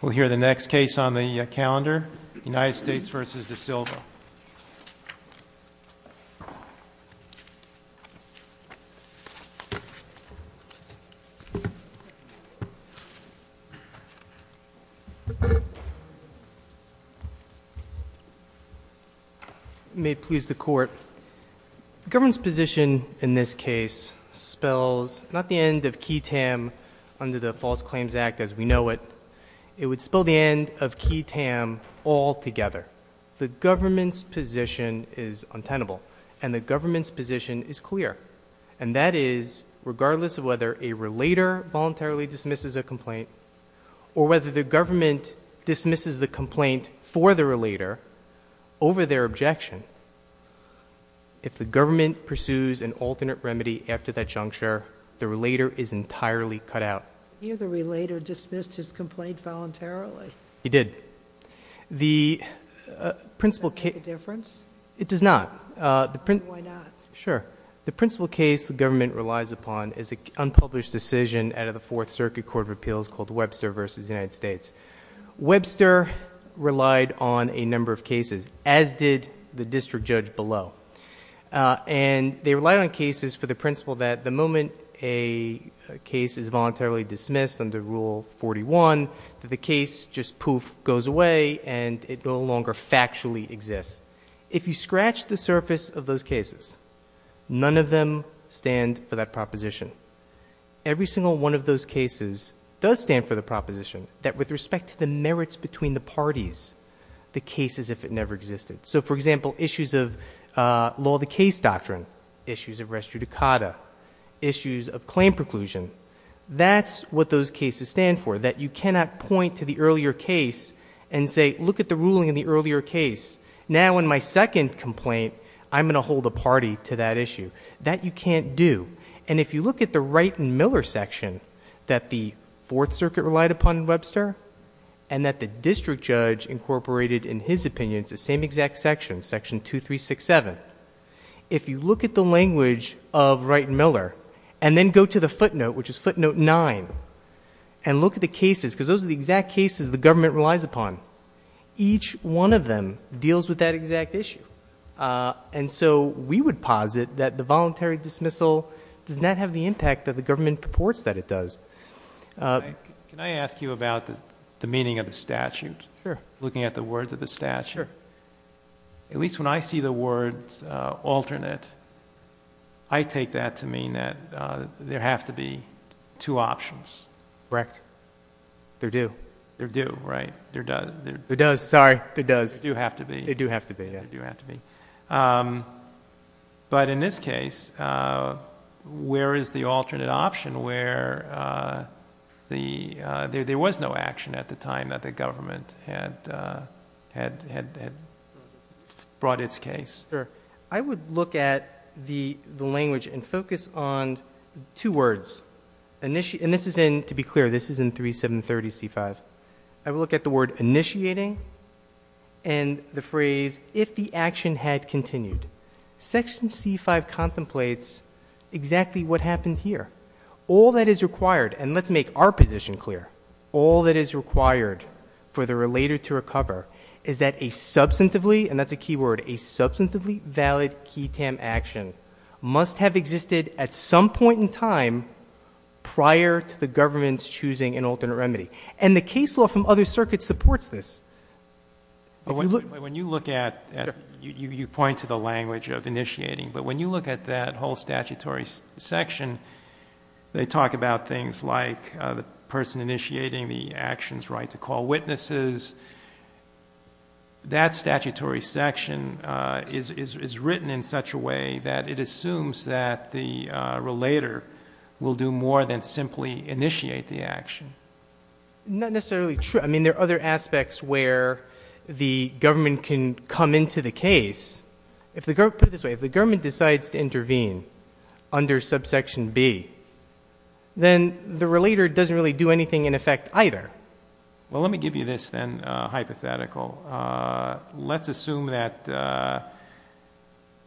We'll hear the next case on the calendar, United States v. DeSilva. May it please the Court, The government's position in this case spells not the end of QI-TAM under the False Claims Act as we know it, it would spell the end of QI-TAM altogether. The government's position is untenable, and the government's position is clear, and that is regardless of whether a relator voluntarily dismisses a complaint or whether the government dismisses the complaint for the relator over their objection, if the government pursues an alternate remedy after that juncture, the relator is entirely cut out. Here the relator dismissed his complaint voluntarily. He did. Does that make a difference? It does not. Why not? Sure. The principal case the government relies upon is an unpublished decision out of the Fourth Circuit Court of Appeals called Webster v. United States. Webster relied on a number of cases, as did the district judge below, and they relied on cases for the principle that the moment a case is voluntarily dismissed under Rule 41, that the case just poof, goes away, and it no longer factually exists. If you scratch the surface of those cases, none of them stand for that proposition. Every single one of those cases does stand for the proposition that with respect to the merits between the parties, the case as if it never existed. So, for example, issues of law of the case doctrine, issues of res judicata, issues of claim preclusion, that's what those cases stand for, that you cannot point to the earlier case and say, look at the ruling in the earlier case. Now in my second complaint, I'm going to hold a party to that issue. That you can't do. And if you look at the Wright and Miller section that the Fourth Circuit relied upon in Webster and that the district judge incorporated in his opinion, it's the same exact section, section 2367. If you look at the language of Wright and Miller and then go to the footnote, which is footnote 9, and look at the cases, because those are the exact cases the government relies upon, each one of them deals with that exact issue. And so we would posit that the voluntary dismissal does not have the impact that the government purports that it does. Can I ask you about the meaning of the statute? Sure. Looking at the words of the statute. Sure. At least when I see the words alternate, I take that to mean that there have to be two options. Correct. There do. There do, right. There does. There does, sorry. There does. They do have to be. They do have to be, yeah. They do have to be. But in this case, where is the alternate option where there was no action at the time that the government had brought its case? Sure. I would look at the language and focus on two words. And this is in, to be clear, this is in 3730C5. I would look at the word initiating and the phrase if the action had continued. Section C5 contemplates exactly what happened here. All that is required, and let's make our position clear, all that is required for the relator to recover is that a substantively, and that's a key word, a substantively valid key TAM action must have existed at some point in time prior to the government's choosing an alternate remedy. And the case law from other circuits supports this. When you look at, you point to the language of initiating, but when you look at that whole statutory section, they talk about things like the person initiating the action's right to call witnesses. That statutory section is written in such a way that it assumes that the relator will do more than simply initiate the action. Not necessarily true. I mean, there are other aspects where the government can come into the case. Put it this way. If the government decides to intervene under subsection B, then the relator doesn't really do anything in effect either. Well, let me give you this, then, hypothetical. Let's assume that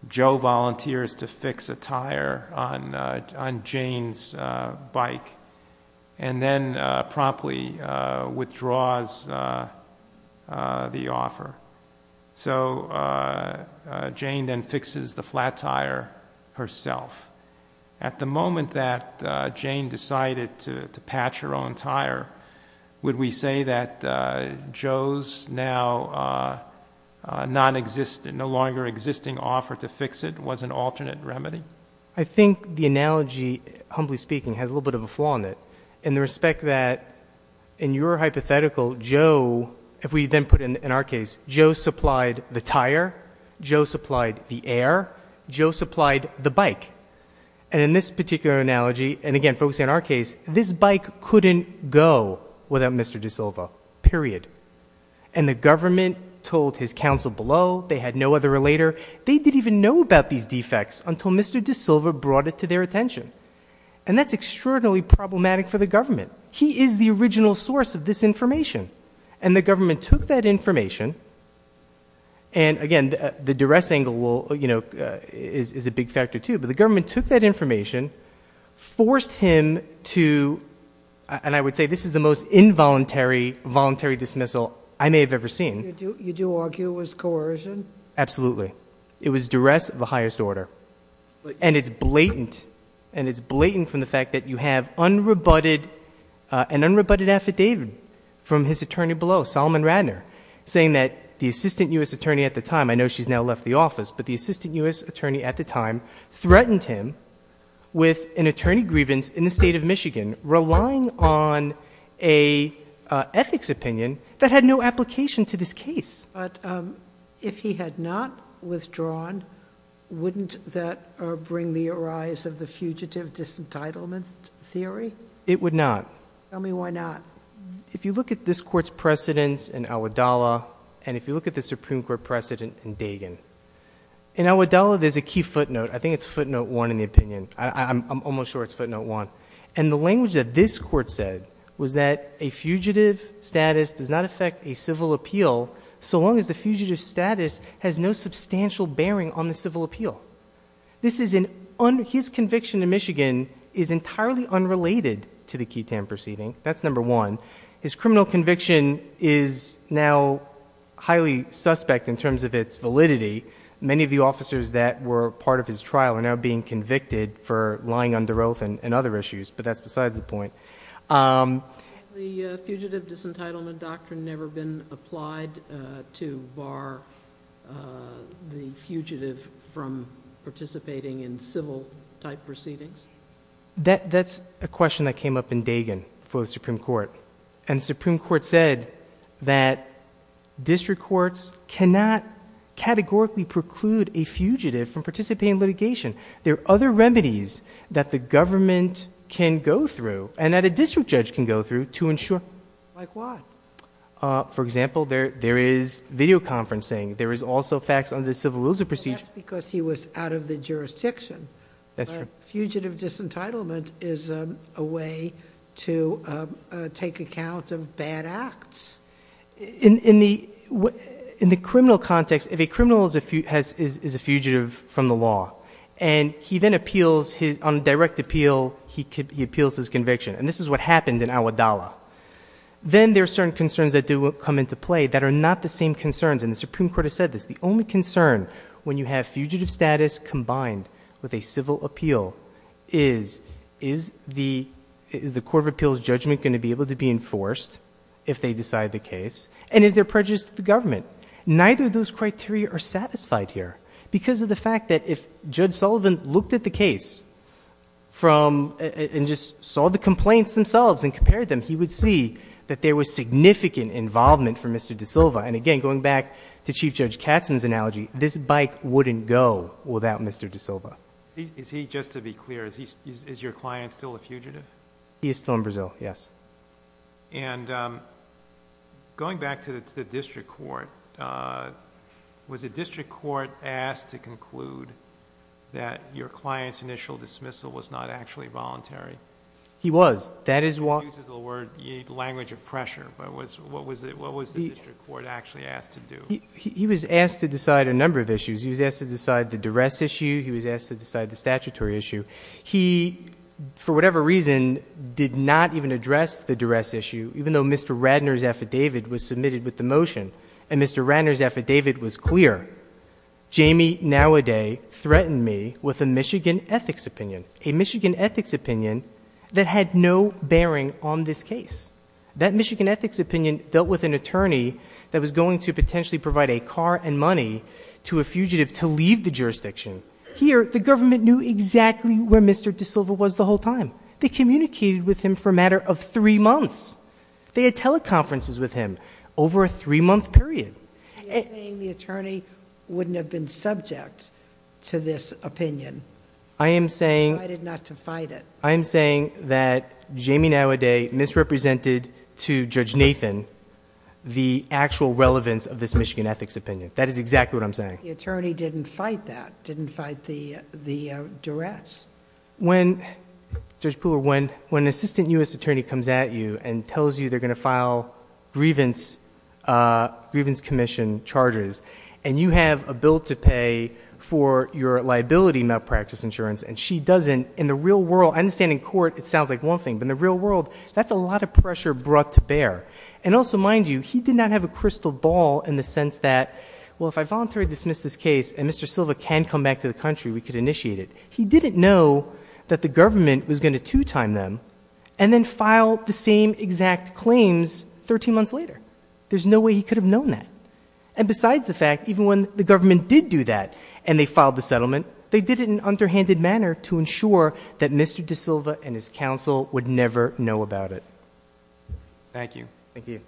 Joe volunteers to fix a tire on Jane's bike and then promptly withdraws the offer. So Jane then fixes the flat tire herself. At the moment that Jane decided to patch her own tire, would we say that Joe's now no longer existing offer to fix it was an alternate remedy? I think the analogy, humbly speaking, has a little bit of a flaw in it. In the respect that in your hypothetical, Joe, if we then put it in our case, Joe supplied the tire. Joe supplied the air. Joe supplied the bike. And in this particular analogy, and again, focusing on our case, this bike couldn't go without Mr. DeSilva. Period. And the government told his counsel below, they had no other relator. They didn't even know about these defects until Mr. DeSilva brought it to their attention. And that's extraordinarily problematic for the government. He is the original source of this information. And the government took that information, and again, the duress angle is a big factor, too. But the government took that information, forced him to, and I would say this is the most involuntary voluntary dismissal I may have ever seen. You do argue it was coercion? Absolutely. It was duress of the highest order. And it's blatant. And it's blatant from the fact that you have unrebutted, an unrebutted affidavit from his attorney below, Solomon Radner, saying that the assistant U.S. attorney at the time, I know she's now left the office, but the assistant U.S. attorney at the time threatened him with an attorney grievance in the state of Michigan, relying on a ethics opinion that had no application to this case. But if he had not withdrawn, wouldn't that bring the arise of the fugitive disentitlement theory? It would not. Tell me why not. If you look at this Court's precedents in Al-Wadalah and if you look at the Supreme Court precedent in Dagan, in Al-Wadalah there's a key footnote. I think it's footnote one in the opinion. I'm almost sure it's footnote one. And the language that this Court said was that a fugitive status does not affect a civil appeal so long as the fugitive status has no substantial bearing on the civil appeal. This is an, his conviction in Michigan is entirely unrelated to the QI-TAM proceeding. That's number one. His criminal conviction is now highly suspect in terms of its validity. Many of the officers that were part of his trial are now being convicted for lying under oath and other issues. But that's besides the point. Has the fugitive disentitlement doctrine never been applied to bar the fugitive from participating in civil-type proceedings? That's a question that came up in Dagan for the Supreme Court. And the Supreme Court said that district courts cannot categorically preclude a fugitive from participating in litigation. There are other remedies that the government can go through and that a district judge can go through to ensure. Like what? For example, there is videoconferencing. There is also facts under the civil rules of procedure. But fugitive disentitlement is a way to take account of bad acts. In the criminal context, if a criminal is a fugitive from the law and he then appeals, on direct appeal, he appeals his conviction. And this is what happened in Awadallah. Then there are certain concerns that do come into play that are not the same concerns. And the Supreme Court has said this. The only concern when you have fugitive status combined with a civil appeal is, is the court of appeals judgment going to be able to be enforced if they decide the case? And is there prejudice to the government? Neither of those criteria are satisfied here. Because of the fact that if Judge Sullivan looked at the case and just saw the complaints themselves and compared them, he would see that there was significant involvement from Mr. DaSilva. And again, going back to Chief Judge Katzen's analogy, this bike wouldn't go without Mr. DaSilva. Is he, just to be clear, is your client still a fugitive? He is still in Brazil, yes. And going back to the district court, was the district court asked to conclude that your client's initial dismissal was not actually voluntary? He was. He uses the word language of pressure. But what was the district court actually asked to do? He was asked to decide a number of issues. He was asked to decide the duress issue. He was asked to decide the statutory issue. He, for whatever reason, did not even address the duress issue, even though Mr. Radnor's affidavit was submitted with the motion. And Mr. Radnor's affidavit was clear. Jamie, nowaday, threatened me with a Michigan ethics opinion. A Michigan ethics opinion that had no bearing on this case. That Michigan ethics opinion dealt with an attorney that was going to potentially provide a car and money to a fugitive to leave the jurisdiction. Here, the government knew exactly where Mr. DaSilva was the whole time. They communicated with him for a matter of three months. They had teleconferences with him over a three-month period. You're saying the attorney wouldn't have been subject to this opinion? I am saying- Decided not to fight it. I am saying that Jamie, nowaday, misrepresented to Judge Nathan the actual relevance of this Michigan ethics opinion. That is exactly what I'm saying. The attorney didn't fight that, didn't fight the duress. Judge Pooler, when an assistant U.S. attorney comes at you and tells you they're going to file grievance commission charges, and you have a bill to pay for your liability malpractice insurance, and she doesn't, in the real world, I understand in court it sounds like one thing, but in the real world, that's a lot of pressure brought to bear. And also, mind you, he did not have a crystal ball in the sense that, well, if I voluntarily dismiss this case, and Mr. DaSilva can come back to the country, we can initiate it. He didn't know that the government was going to two-time them and then file the same exact claims 13 months later. There's no way he could have known that. And besides the fact, even when the government did do that and they filed the settlement, they did it in an underhanded manner to ensure that Mr. DaSilva and his counsel would never know about it. Thank you. Thank you.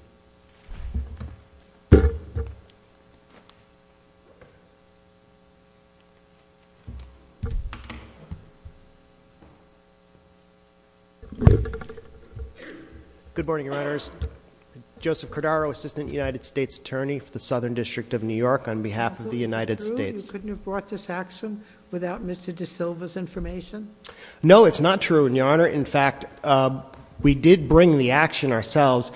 Good morning, Your Honors. Joseph Cordaro, Assistant United States Attorney for the Southern District of New York on behalf of the United States. Couldn't you have brought this action without Mr. DaSilva's information? No, it's not true, Your Honor. In fact, we did bring the action ourselves.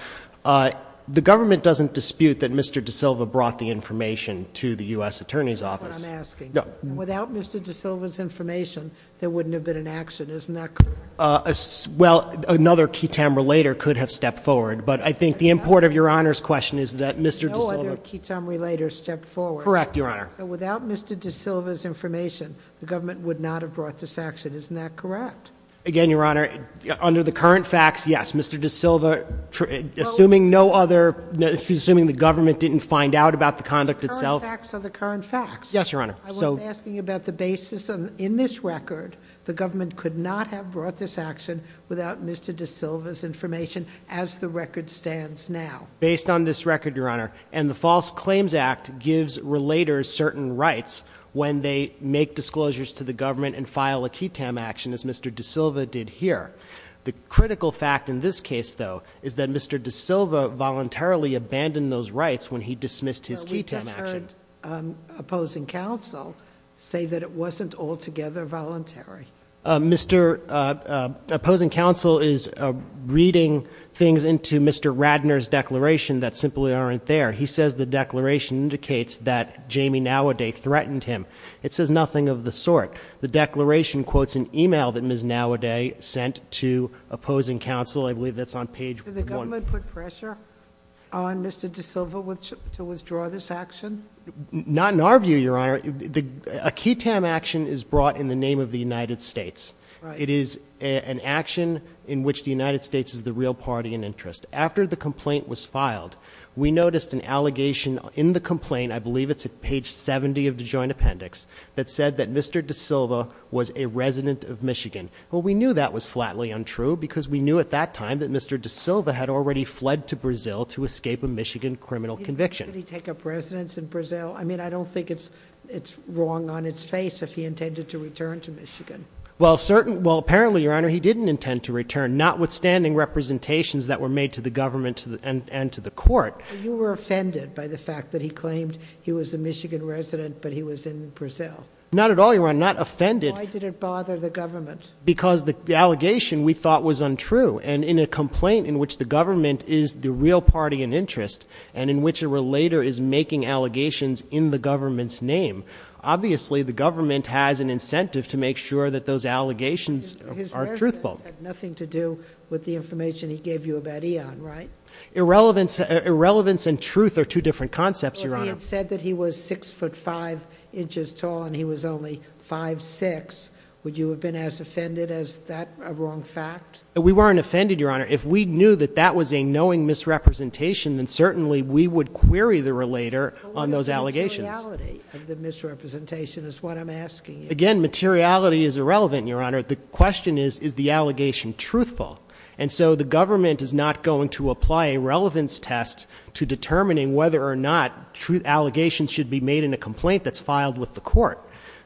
The government doesn't dispute that Mr. DaSilva brought the information to the U.S. Attorney's Office. That's what I'm asking. Without Mr. DaSilva's information, there wouldn't have been an action. Isn't that correct? Well, another key time or later could have stepped forward. But I think the import of Your Honor's question is that Mr. DaSilva- No other key time or later stepped forward. Correct, Your Honor. Without Mr. DaSilva's information, the government would not have brought this action. Isn't that correct? Again, Your Honor, under the current facts, yes. Mr. DaSilva, assuming no other, assuming the government didn't find out about the conduct itself- The current facts are the current facts. Yes, Your Honor. I was asking about the basis in this record. The government could not have brought this action without Mr. DaSilva's information as the record stands now. Based on this record, Your Honor, and the False Claims Act gives relators certain rights when they make disclosures to the government and file a key time action as Mr. DaSilva did here. The critical fact in this case, though, is that Mr. DaSilva voluntarily abandoned those rights when he dismissed his key time action. I just heard Opposing Counsel say that it wasn't altogether voluntary. Mr. Opposing Counsel is reading things into Mr. Radner's declaration that simply aren't there. He says the declaration indicates that Jamie Nowaday threatened him. It says nothing of the sort. The declaration quotes an email that Ms. Nowaday sent to Opposing Counsel. I believe that's on page one. Someone put pressure on Mr. DaSilva to withdraw this action? Not in our view, Your Honor. A key time action is brought in the name of the United States. It is an action in which the United States is the real party in interest. After the complaint was filed, we noticed an allegation in the complaint, I believe it's at page 70 of the joint appendix, that said that Mr. DaSilva was a resident of Michigan. Well, we knew that was flatly untrue because we knew at that time that Mr. DaSilva had already fled to Brazil to escape a Michigan criminal conviction. Did he take up residence in Brazil? I mean, I don't think it's wrong on its face if he intended to return to Michigan. Well, apparently, Your Honor, he didn't intend to return, notwithstanding representations that were made to the government and to the court. You were offended by the fact that he claimed he was a Michigan resident but he was in Brazil? Not at all, Your Honor, not offended. Why did it bother the government? Because the allegation we thought was untrue and in a complaint in which the government is the real party in interest and in which a relator is making allegations in the government's name, obviously the government has an incentive to make sure that those allegations are truthful. His residence had nothing to do with the information he gave you about Ian, right? If Ian said that he was 6 foot 5 inches tall and he was only 5'6", would you have been as offended as that wrong fact? We weren't offended, Your Honor. If we knew that that was a knowing misrepresentation, then certainly we would query the relator on those allegations. Materiality of the misrepresentation is what I'm asking you. Again, materiality is irrelevant, Your Honor. The question is, is the allegation truthful? And so the government is not going to apply a relevance test to determining whether or not true allegations should be made in a complaint that's filed with the court.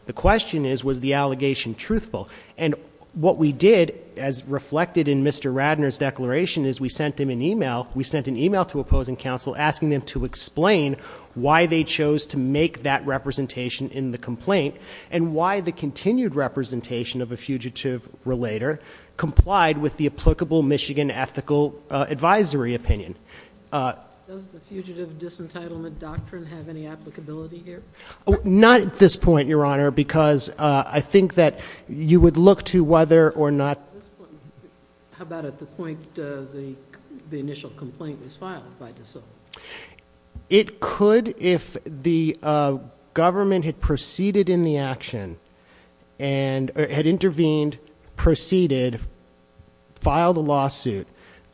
The question is, was the allegation truthful? And what we did, as reflected in Mr. Radner's declaration, is we sent him an e-mail. We sent an e-mail to opposing counsel asking them to explain why they chose to make that representation in the complaint and why the continued representation of a fugitive relator complied with the applicable Michigan ethical advisory opinion. Does the fugitive disentitlement doctrine have any applicability here? Not at this point, Your Honor, because I think that you would look to whether or not... At this point, how about at the point the initial complaint was filed by DeSoto? It could, if the government had proceeded in the action, and had intervened, proceeded, filed a lawsuit,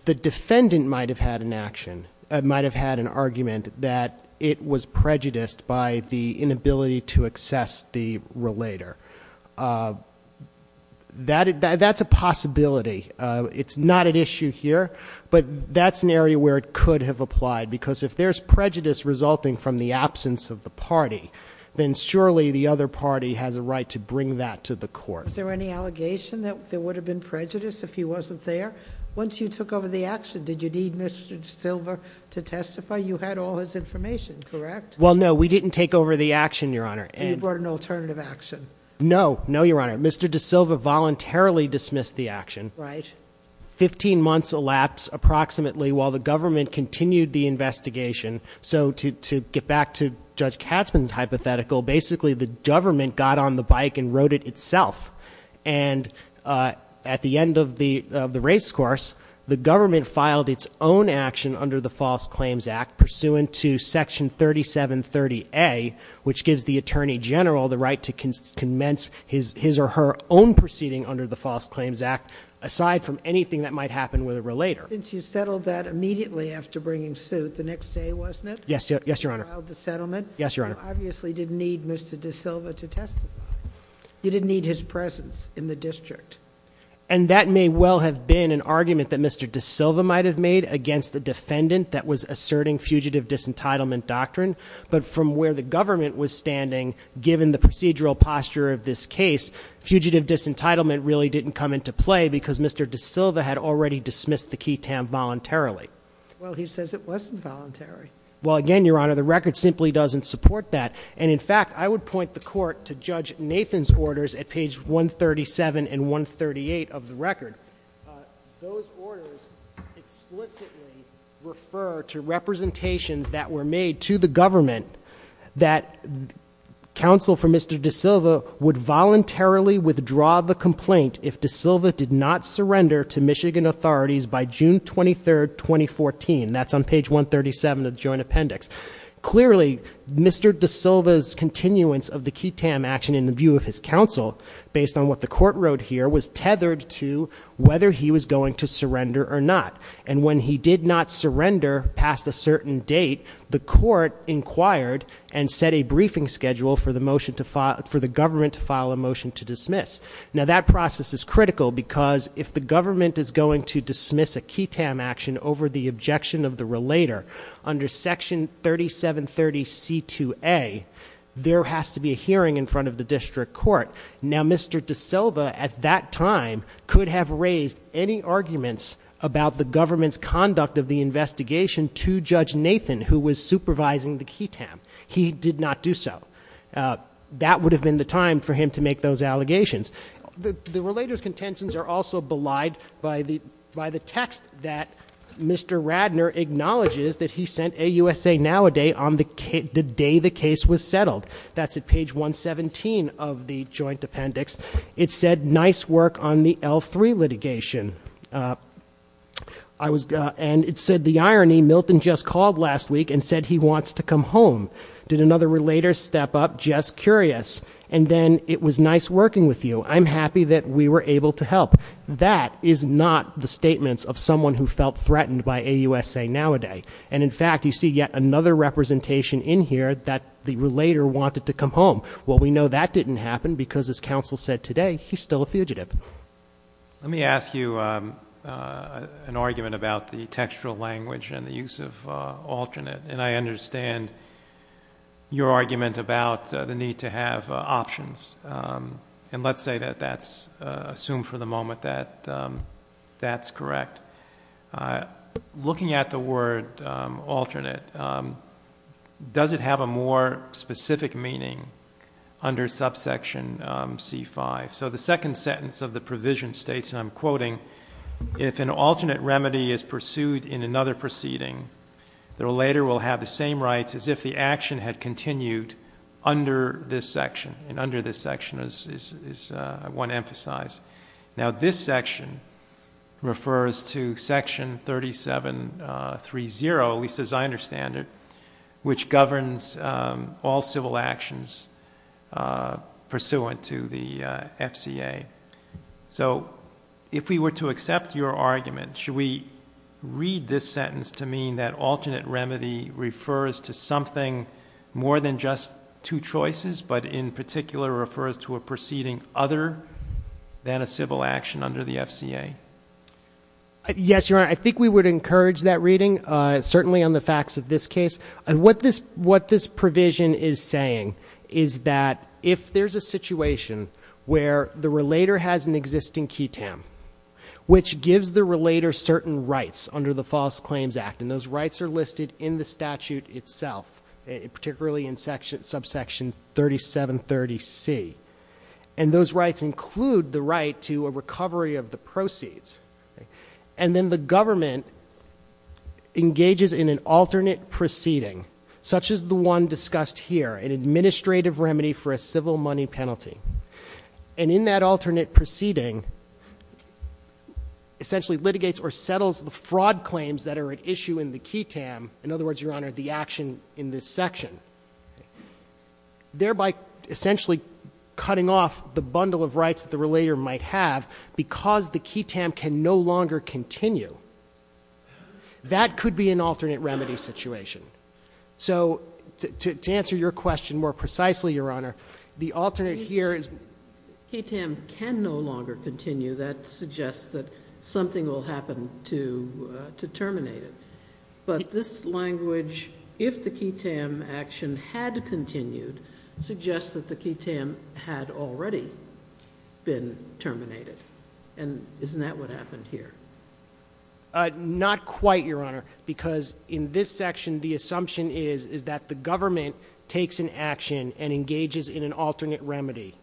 the defendant might have had an argument that it was prejudiced by the inability to access the relator. That's a possibility. It's not an issue here, but that's an area where it could have applied, because if there's prejudice resulting from the absence of the party, then surely the other party has a right to bring that to the court. Was there any allegation that there would have been prejudice if he wasn't there? Once you took over the action, did you need Mr. DeSilva to testify? You had all his information, correct? Well, no, we didn't take over the action, Your Honor. You brought an alternative action. No, no, Your Honor. Mr. DeSilva voluntarily dismissed the action. Right. Fifteen months elapsed, approximately, while the government continued the investigation. So to get back to Judge Katzmann's hypothetical, basically the government got on the bike and wrote it itself. And at the end of the race course, the government filed its own action under the False Claims Act, pursuant to Section 3730A, which gives the Attorney General the right to commence his or her own proceeding under the False Claims Act, aside from anything that might happen with a relator. Since you settled that immediately after bringing suit, the next day, wasn't it? Yes, Your Honor. You filed the settlement. Yes, Your Honor. You obviously didn't need Mr. DeSilva to testify. You didn't need his presence in the district. And that may well have been an argument that Mr. DeSilva might have made against the defendant that was asserting fugitive disentitlement doctrine. But from where the government was standing, given the procedural posture of this case, fugitive disentitlement really didn't come into play because Mr. DeSilva had already dismissed the key tam voluntarily. Well, he says it wasn't voluntary. Well, again, Your Honor, the record simply doesn't support that. And in fact, I would point the court to Judge Nathan's orders at page 137 and 138 of the record. Those orders explicitly refer to representations that were made to the government that counsel for Mr. DeSilva would voluntarily withdraw the complaint if DeSilva did not surrender to Michigan authorities by June 23, 2014. That's on page 137 of the joint appendix. Clearly, Mr. DeSilva's continuance of the key tam action in the view of his counsel, based on what the court wrote here, was tethered to whether he was going to surrender or not. And when he did not surrender past a certain date, the court inquired and set a briefing schedule for the government to file a motion to dismiss. Now that process is critical because if the government is going to dismiss a key tam action over the objection of the relator, under section 3730C2A, there has to be a hearing in front of the district court. Now, Mr. DeSilva, at that time, could have raised any arguments about the government's conduct of the investigation to Judge Nathan, who was supervising the key tam. He did not do so. That would have been the time for him to make those allegations. The relator's contentions are also belied by the text that Mr. Radner acknowledges that he sent a USA Now a day on the day the case was settled. That's at page 117 of the joint appendix. It said, nice work on the L3 litigation. And it said, the irony, Milton just called last week and said he wants to come home. Did another relator step up? Just curious. And then, it was nice working with you. I'm happy that we were able to help. That is not the statements of someone who felt threatened by a USA Now a day. And, in fact, you see yet another representation in here that the relator wanted to come home. Well, we know that didn't happen because, as counsel said today, he's still a fugitive. Let me ask you an argument about the textual language and the use of alternate. And I understand your argument about the need to have options. And let's say that that's assumed for the moment that that's correct. Looking at the word alternate, does it have a more specific meaning under subsection C5? So the second sentence of the provision states, and I'm quoting, if an alternate remedy is pursued in another proceeding, the relator will have the same rights as if the action had continued under this section. And under this section is what I want to emphasize. Now, this section refers to Section 3730, at least as I understand it, which governs all civil actions pursuant to the FCA. So if we were to accept your argument, should we read this sentence to mean that alternate remedy refers to something more than just two choices, but in particular refers to a proceeding other than a civil action under the FCA? Yes, Your Honor. I think we would encourage that reading, certainly on the facts of this case. What this provision is saying is that if there's a situation where the relator has an existing key tam, which gives the relator certain rights under the False Claims Act, and those rights are listed in the statute itself, particularly in subsection 3730C. And those rights include the right to a recovery of the proceeds. And then the government engages in an alternate proceeding, such as the one discussed here, an administrative remedy for a civil money penalty. And in that alternate proceeding, essentially litigates or settles the fraud claims that are at issue in the key tam. In other words, Your Honor, the action in this section. Thereby essentially cutting off the bundle of rights that the relator might have because the key tam can no longer continue. That could be an alternate remedy situation. So to answer your question more precisely, Your Honor, the alternate here is... Key tam can no longer continue. That suggests that something will happen to terminate it. But this language, if the key tam action had continued, suggests that the key tam had already been terminated. And isn't that what happened here? Not quite, Your Honor. Because in this section, the assumption is that the government takes an action and engages in an alternate remedy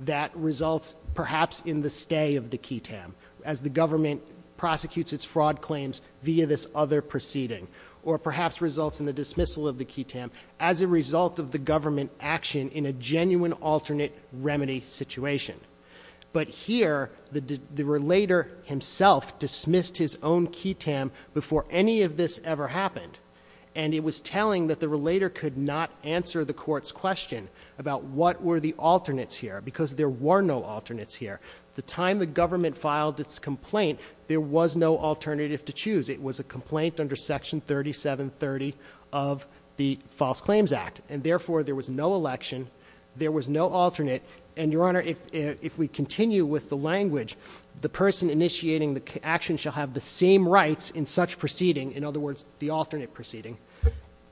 that results perhaps in the stay of the key tam as the government prosecutes its fraud claims via this other proceeding, or perhaps results in the dismissal of the key tam as a result of the government action in a genuine alternate remedy situation. But here, the relator himself dismissed his own key tam before any of this ever happened. And it was telling that the relator could not answer the court's question about what were the alternates here, because there were no alternates here. The time the government filed its complaint, there was no alternative to choose. It was a complaint under Section 3730 of the False Claims Act. And therefore, there was no election. There was no alternate. And, Your Honor, if we continue with the language, the person initiating the action shall have the same rights in such proceeding, in other words, the alternate proceeding,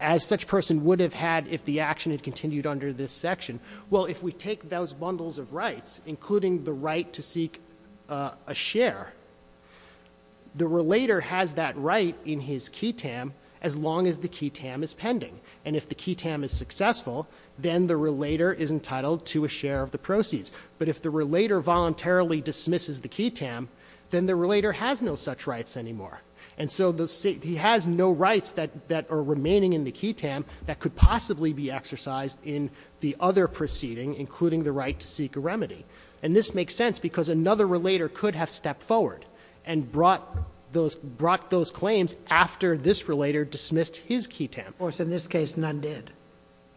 as such person would have had if the action had continued under this section. Well, if we take those bundles of rights, including the right to seek a share, the relator has that right in his key tam as long as the key tam is pending. And if the key tam is successful, then the relator is entitled to a share of the proceeds. But if the relator voluntarily dismisses the key tam, then the relator has no such rights anymore. And so he has no rights that are remaining in the key tam that could possibly be exercised in the other proceeding, including the right to seek a remedy. And this makes sense because another relator could have stepped forward and brought those claims after this relator dismissed his key tam. Of course, in this case, none did.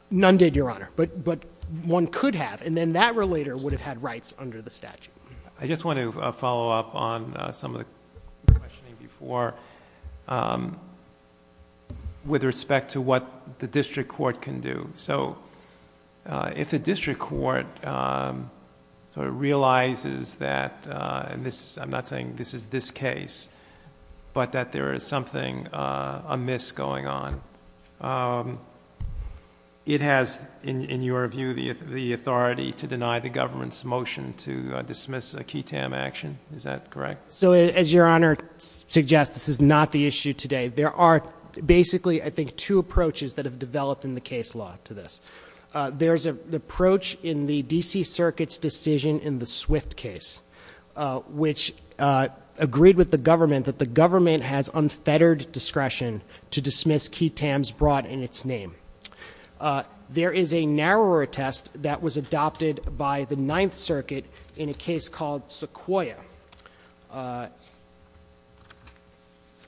None did, Your Honor. But one could have. And then that relator would have had rights under the statute. I just want to follow up on some of the questioning before with respect to what the district court can do. So if the district court realizes that, and I'm not saying this is this case, but that there is something amiss going on, it has, in your view, the authority to deny the government's motion to dismiss a key tam action. Is that correct? So as Your Honor suggests, this is not the issue today. There are basically, I think, two approaches that have developed in the case law to this. There's an approach in the D.C. Circuit's decision in the Swift case, which agreed with the government that the government has unfettered discretion to dismiss key tams brought in its name. There is a narrower test that was adopted by the Ninth Circuit in a case called Sequoyah.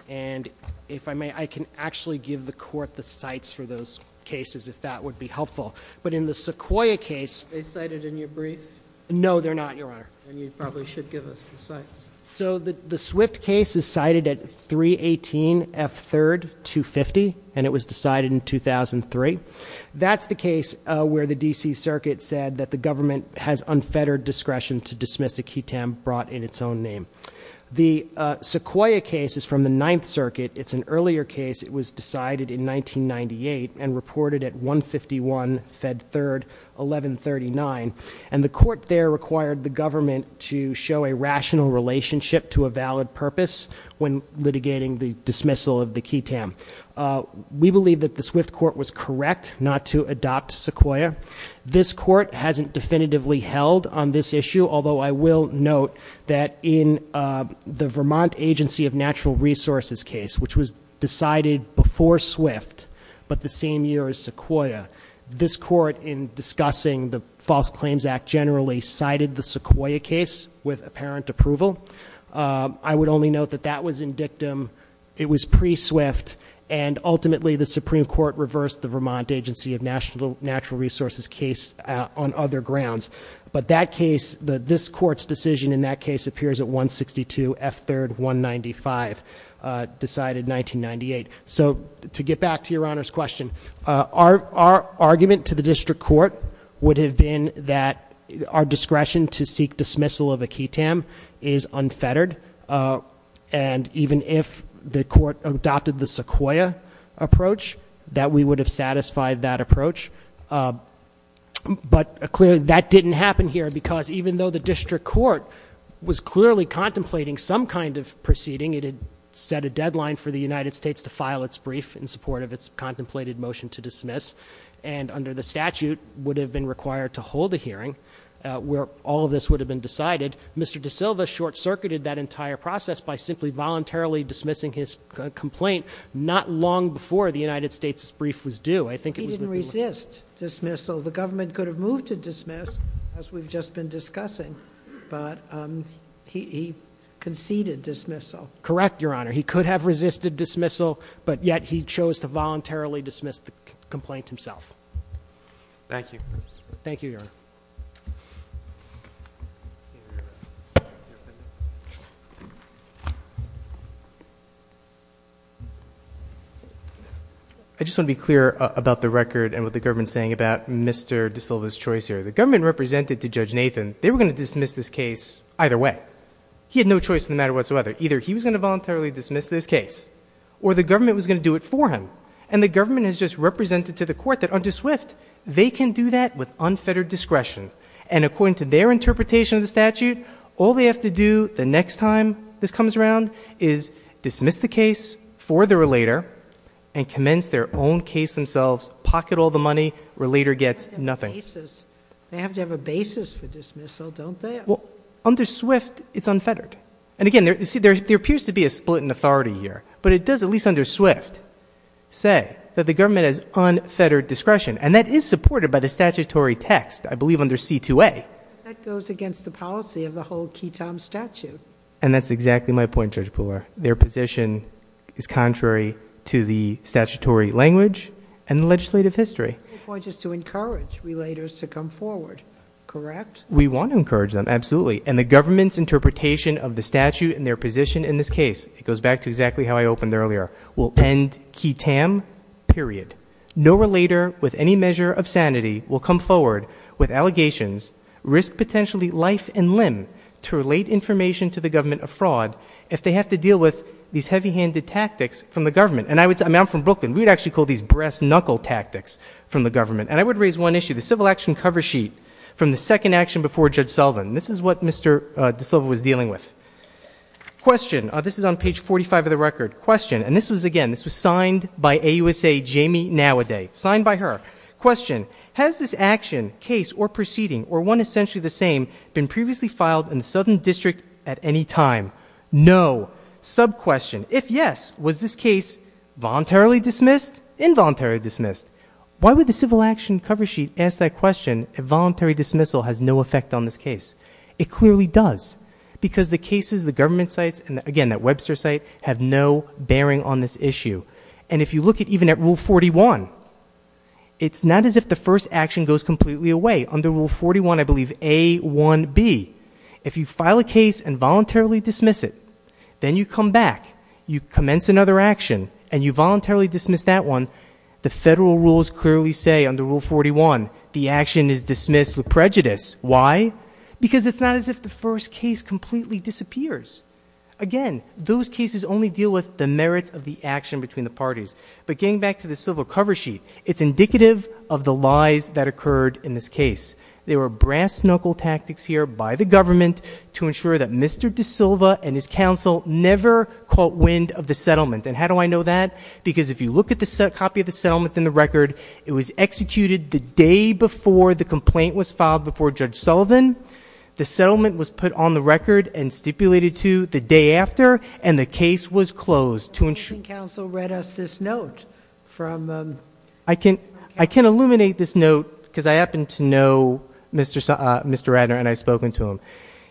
And if I may, I can actually give the court the sites for those cases if that would be helpful. But in the Sequoyah case- Are they cited in your brief? No, they're not, Your Honor. Then you probably should give us the sites. So the Swift case is cited at 318 F3rd 250, and it was decided in 2003. That's the case where the D.C. Circuit said that the government has unfettered discretion to dismiss a key tam brought in its own name. The Sequoyah case is from the Ninth Circuit. It's an earlier case. It was decided in 1998 and reported at 151 F3rd 1139. And the court there required the government to show a rational relationship to a valid purpose when litigating the dismissal of the key tam. We believe that the Swift court was correct not to adopt Sequoyah. This court hasn't definitively held on this issue. Although I will note that in the Vermont Agency of Natural Resources case, which was decided before Swift but the same year as Sequoyah, this court in discussing the False Claims Act generally cited the Sequoyah case with apparent approval. I would only note that that was in dictum. It was pre-Swift, and ultimately the Supreme Court reversed the Vermont Agency of Natural Resources case on other grounds. But that case, this court's decision in that case appears at 162 F3rd 195, decided 1998. So to get back to your Honor's question, our argument to the district court would have been that our discretion to seek dismissal of a key tam is unfettered. And even if the court adopted the Sequoyah approach, that we would have satisfied that approach. But clearly, that didn't happen here because even though the district court was clearly contemplating some kind of proceeding, it had set a deadline for the United States to file its brief in support of its contemplated motion to dismiss. And under the statute, would have been required to hold a hearing where all of this would have been decided. Mr. De Silva short circuited that entire process by simply voluntarily dismissing his complaint, not long before the United States' brief was due. I think it was- He didn't resist dismissal. The government could have moved to dismiss, as we've just been discussing, but he conceded dismissal. Correct, Your Honor. He could have resisted dismissal, but yet he chose to voluntarily dismiss the complaint himself. Thank you. Thank you, Your Honor. I just want to be clear about the record and what the government is saying about Mr. De Silva's choice here. The government represented to Judge Nathan, they were going to dismiss this case either way. He had no choice in the matter whatsoever. Either he was going to voluntarily dismiss this case, or the government was going to do it for him. And the government has just represented to the court that under Swift, they can do that with unfettered discretion. And according to their interpretation of the statute, all they have to do the next time this comes around is dismiss the case for the relator and commence their own case themselves, pocket all the money, relator gets nothing. They have to have a basis for dismissal, don't they? Well, under Swift, it's unfettered. And again, there appears to be a split in authority here. But it does, at least under Swift, say that the government has unfettered discretion. And that is supported by the statutory text, I believe under C-2A. That goes against the policy of the whole QI-TAM statute. And that's exactly my point, Judge Pooler. Their position is contrary to the statutory language and the legislative history. My point is to encourage relators to come forward, correct? We want to encourage them, absolutely. And the government's interpretation of the statute and their position in this case, it goes back to exactly how I opened earlier, will end QI-TAM, period. No relator with any measure of sanity will come forward with allegations, risk potentially life and limb to relate information to the government of fraud if they have to deal with these heavy-handed tactics from the government. And I'm from Brooklyn. We would actually call these breast-knuckle tactics from the government. And I would raise one issue, the civil action cover sheet from the second action before Judge Sullivan. This is what Mr. DeSilva was dealing with. Question. This is on page 45 of the record. Question. And this was, again, this was signed by AUSA Jamie Nowaday. Signed by her. Question. Has this action, case, or proceeding, or one essentially the same, been previously filed in the Southern District at any time? No. Sub-question. If yes, was this case voluntarily dismissed, involuntarily dismissed? Why would the civil action cover sheet ask that question if voluntary dismissal has no effect on this case? It clearly does. Because the cases, the government sites, and, again, that Webster site, have no bearing on this issue. And if you look even at Rule 41, it's not as if the first action goes completely away. Under Rule 41, I believe, A1B, if you file a case and voluntarily dismiss it, then you come back, you commence another action, and you voluntarily dismiss that one, the federal rules clearly say under Rule 41, the action is dismissed with prejudice. Why? Because it's not as if the first case completely disappears. Again, those cases only deal with the merits of the action between the parties. But getting back to the civil cover sheet, it's indicative of the lies that occurred in this case. There were brass knuckle tactics here by the government to ensure that Mr. De Silva and his counsel never caught wind of the settlement. And how do I know that? Because if you look at the copy of the settlement in the record, it was executed the day before the complaint was filed before Judge Sullivan, the settlement was put on the record and stipulated to the day after, and the case was closed to ensure. The Supreme Counsel read us this note from... I can illuminate this note because I happen to know Mr. Radner, and I've spoken to him.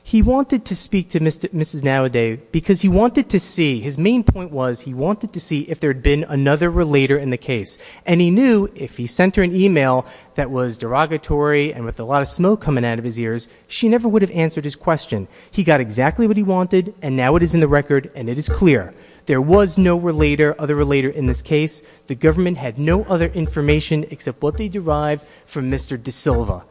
He wanted to speak to Mrs. Nowaday because he wanted to see, his main point was he wanted to see if there had been another relator in the case. And he knew if he sent her an email that was derogatory and with a lot of smoke coming out of his ears, she never would have answered his question. He got exactly what he wanted, and now it is in the record, and it is clear. There was no other relator in this case. The government had no other information except what they derived from Mr. De Silva.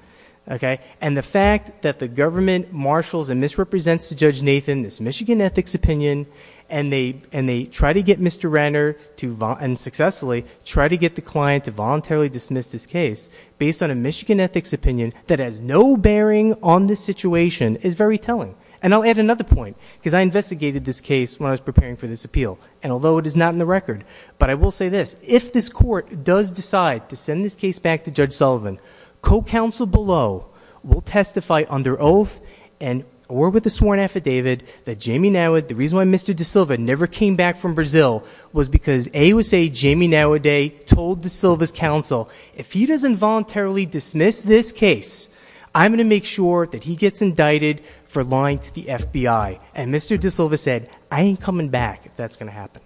And the fact that the government marshals and misrepresents to Judge Nathan this Michigan ethics opinion, and they try to get Mr. Radner to, and successfully, try to get the client to voluntarily dismiss this case based on a Michigan ethics opinion that has no bearing on this situation is very telling. And I'll add another point because I investigated this case when I was preparing for this appeal, and although it is not in the record, but I will say this. If this court does decide to send this case back to Judge Sullivan, co-counsel below will testify under oath and or with a sworn affidavit that the reason why Mr. De Silva never came back from Brazil was because AUSA Jamie Nowaday told De Silva's counsel, if he doesn't voluntarily dismiss this case, I'm going to make sure that he gets indicted for lying to the FBI. And Mr. De Silva said, I ain't coming back if that's going to happen.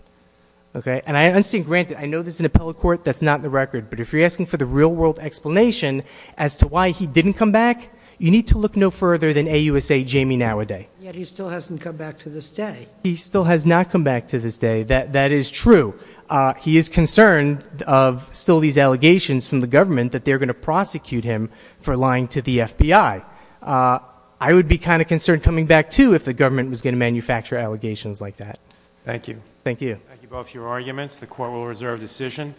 And I understand, granted, I know this is an appellate court that's not in the record, but if you're asking for the real-world explanation as to why he didn't come back, you need to look no further than AUSA Jamie Nowaday. Yet he still hasn't come back to this day. He still has not come back to this day. That is true. He is concerned of still these allegations from the government that they're going to prosecute him for lying to the FBI. I would be kind of concerned coming back too if the government was going to manufacture allegations like that. Thank you. Thank you. Thank you both for your arguments. The court will reserve decision.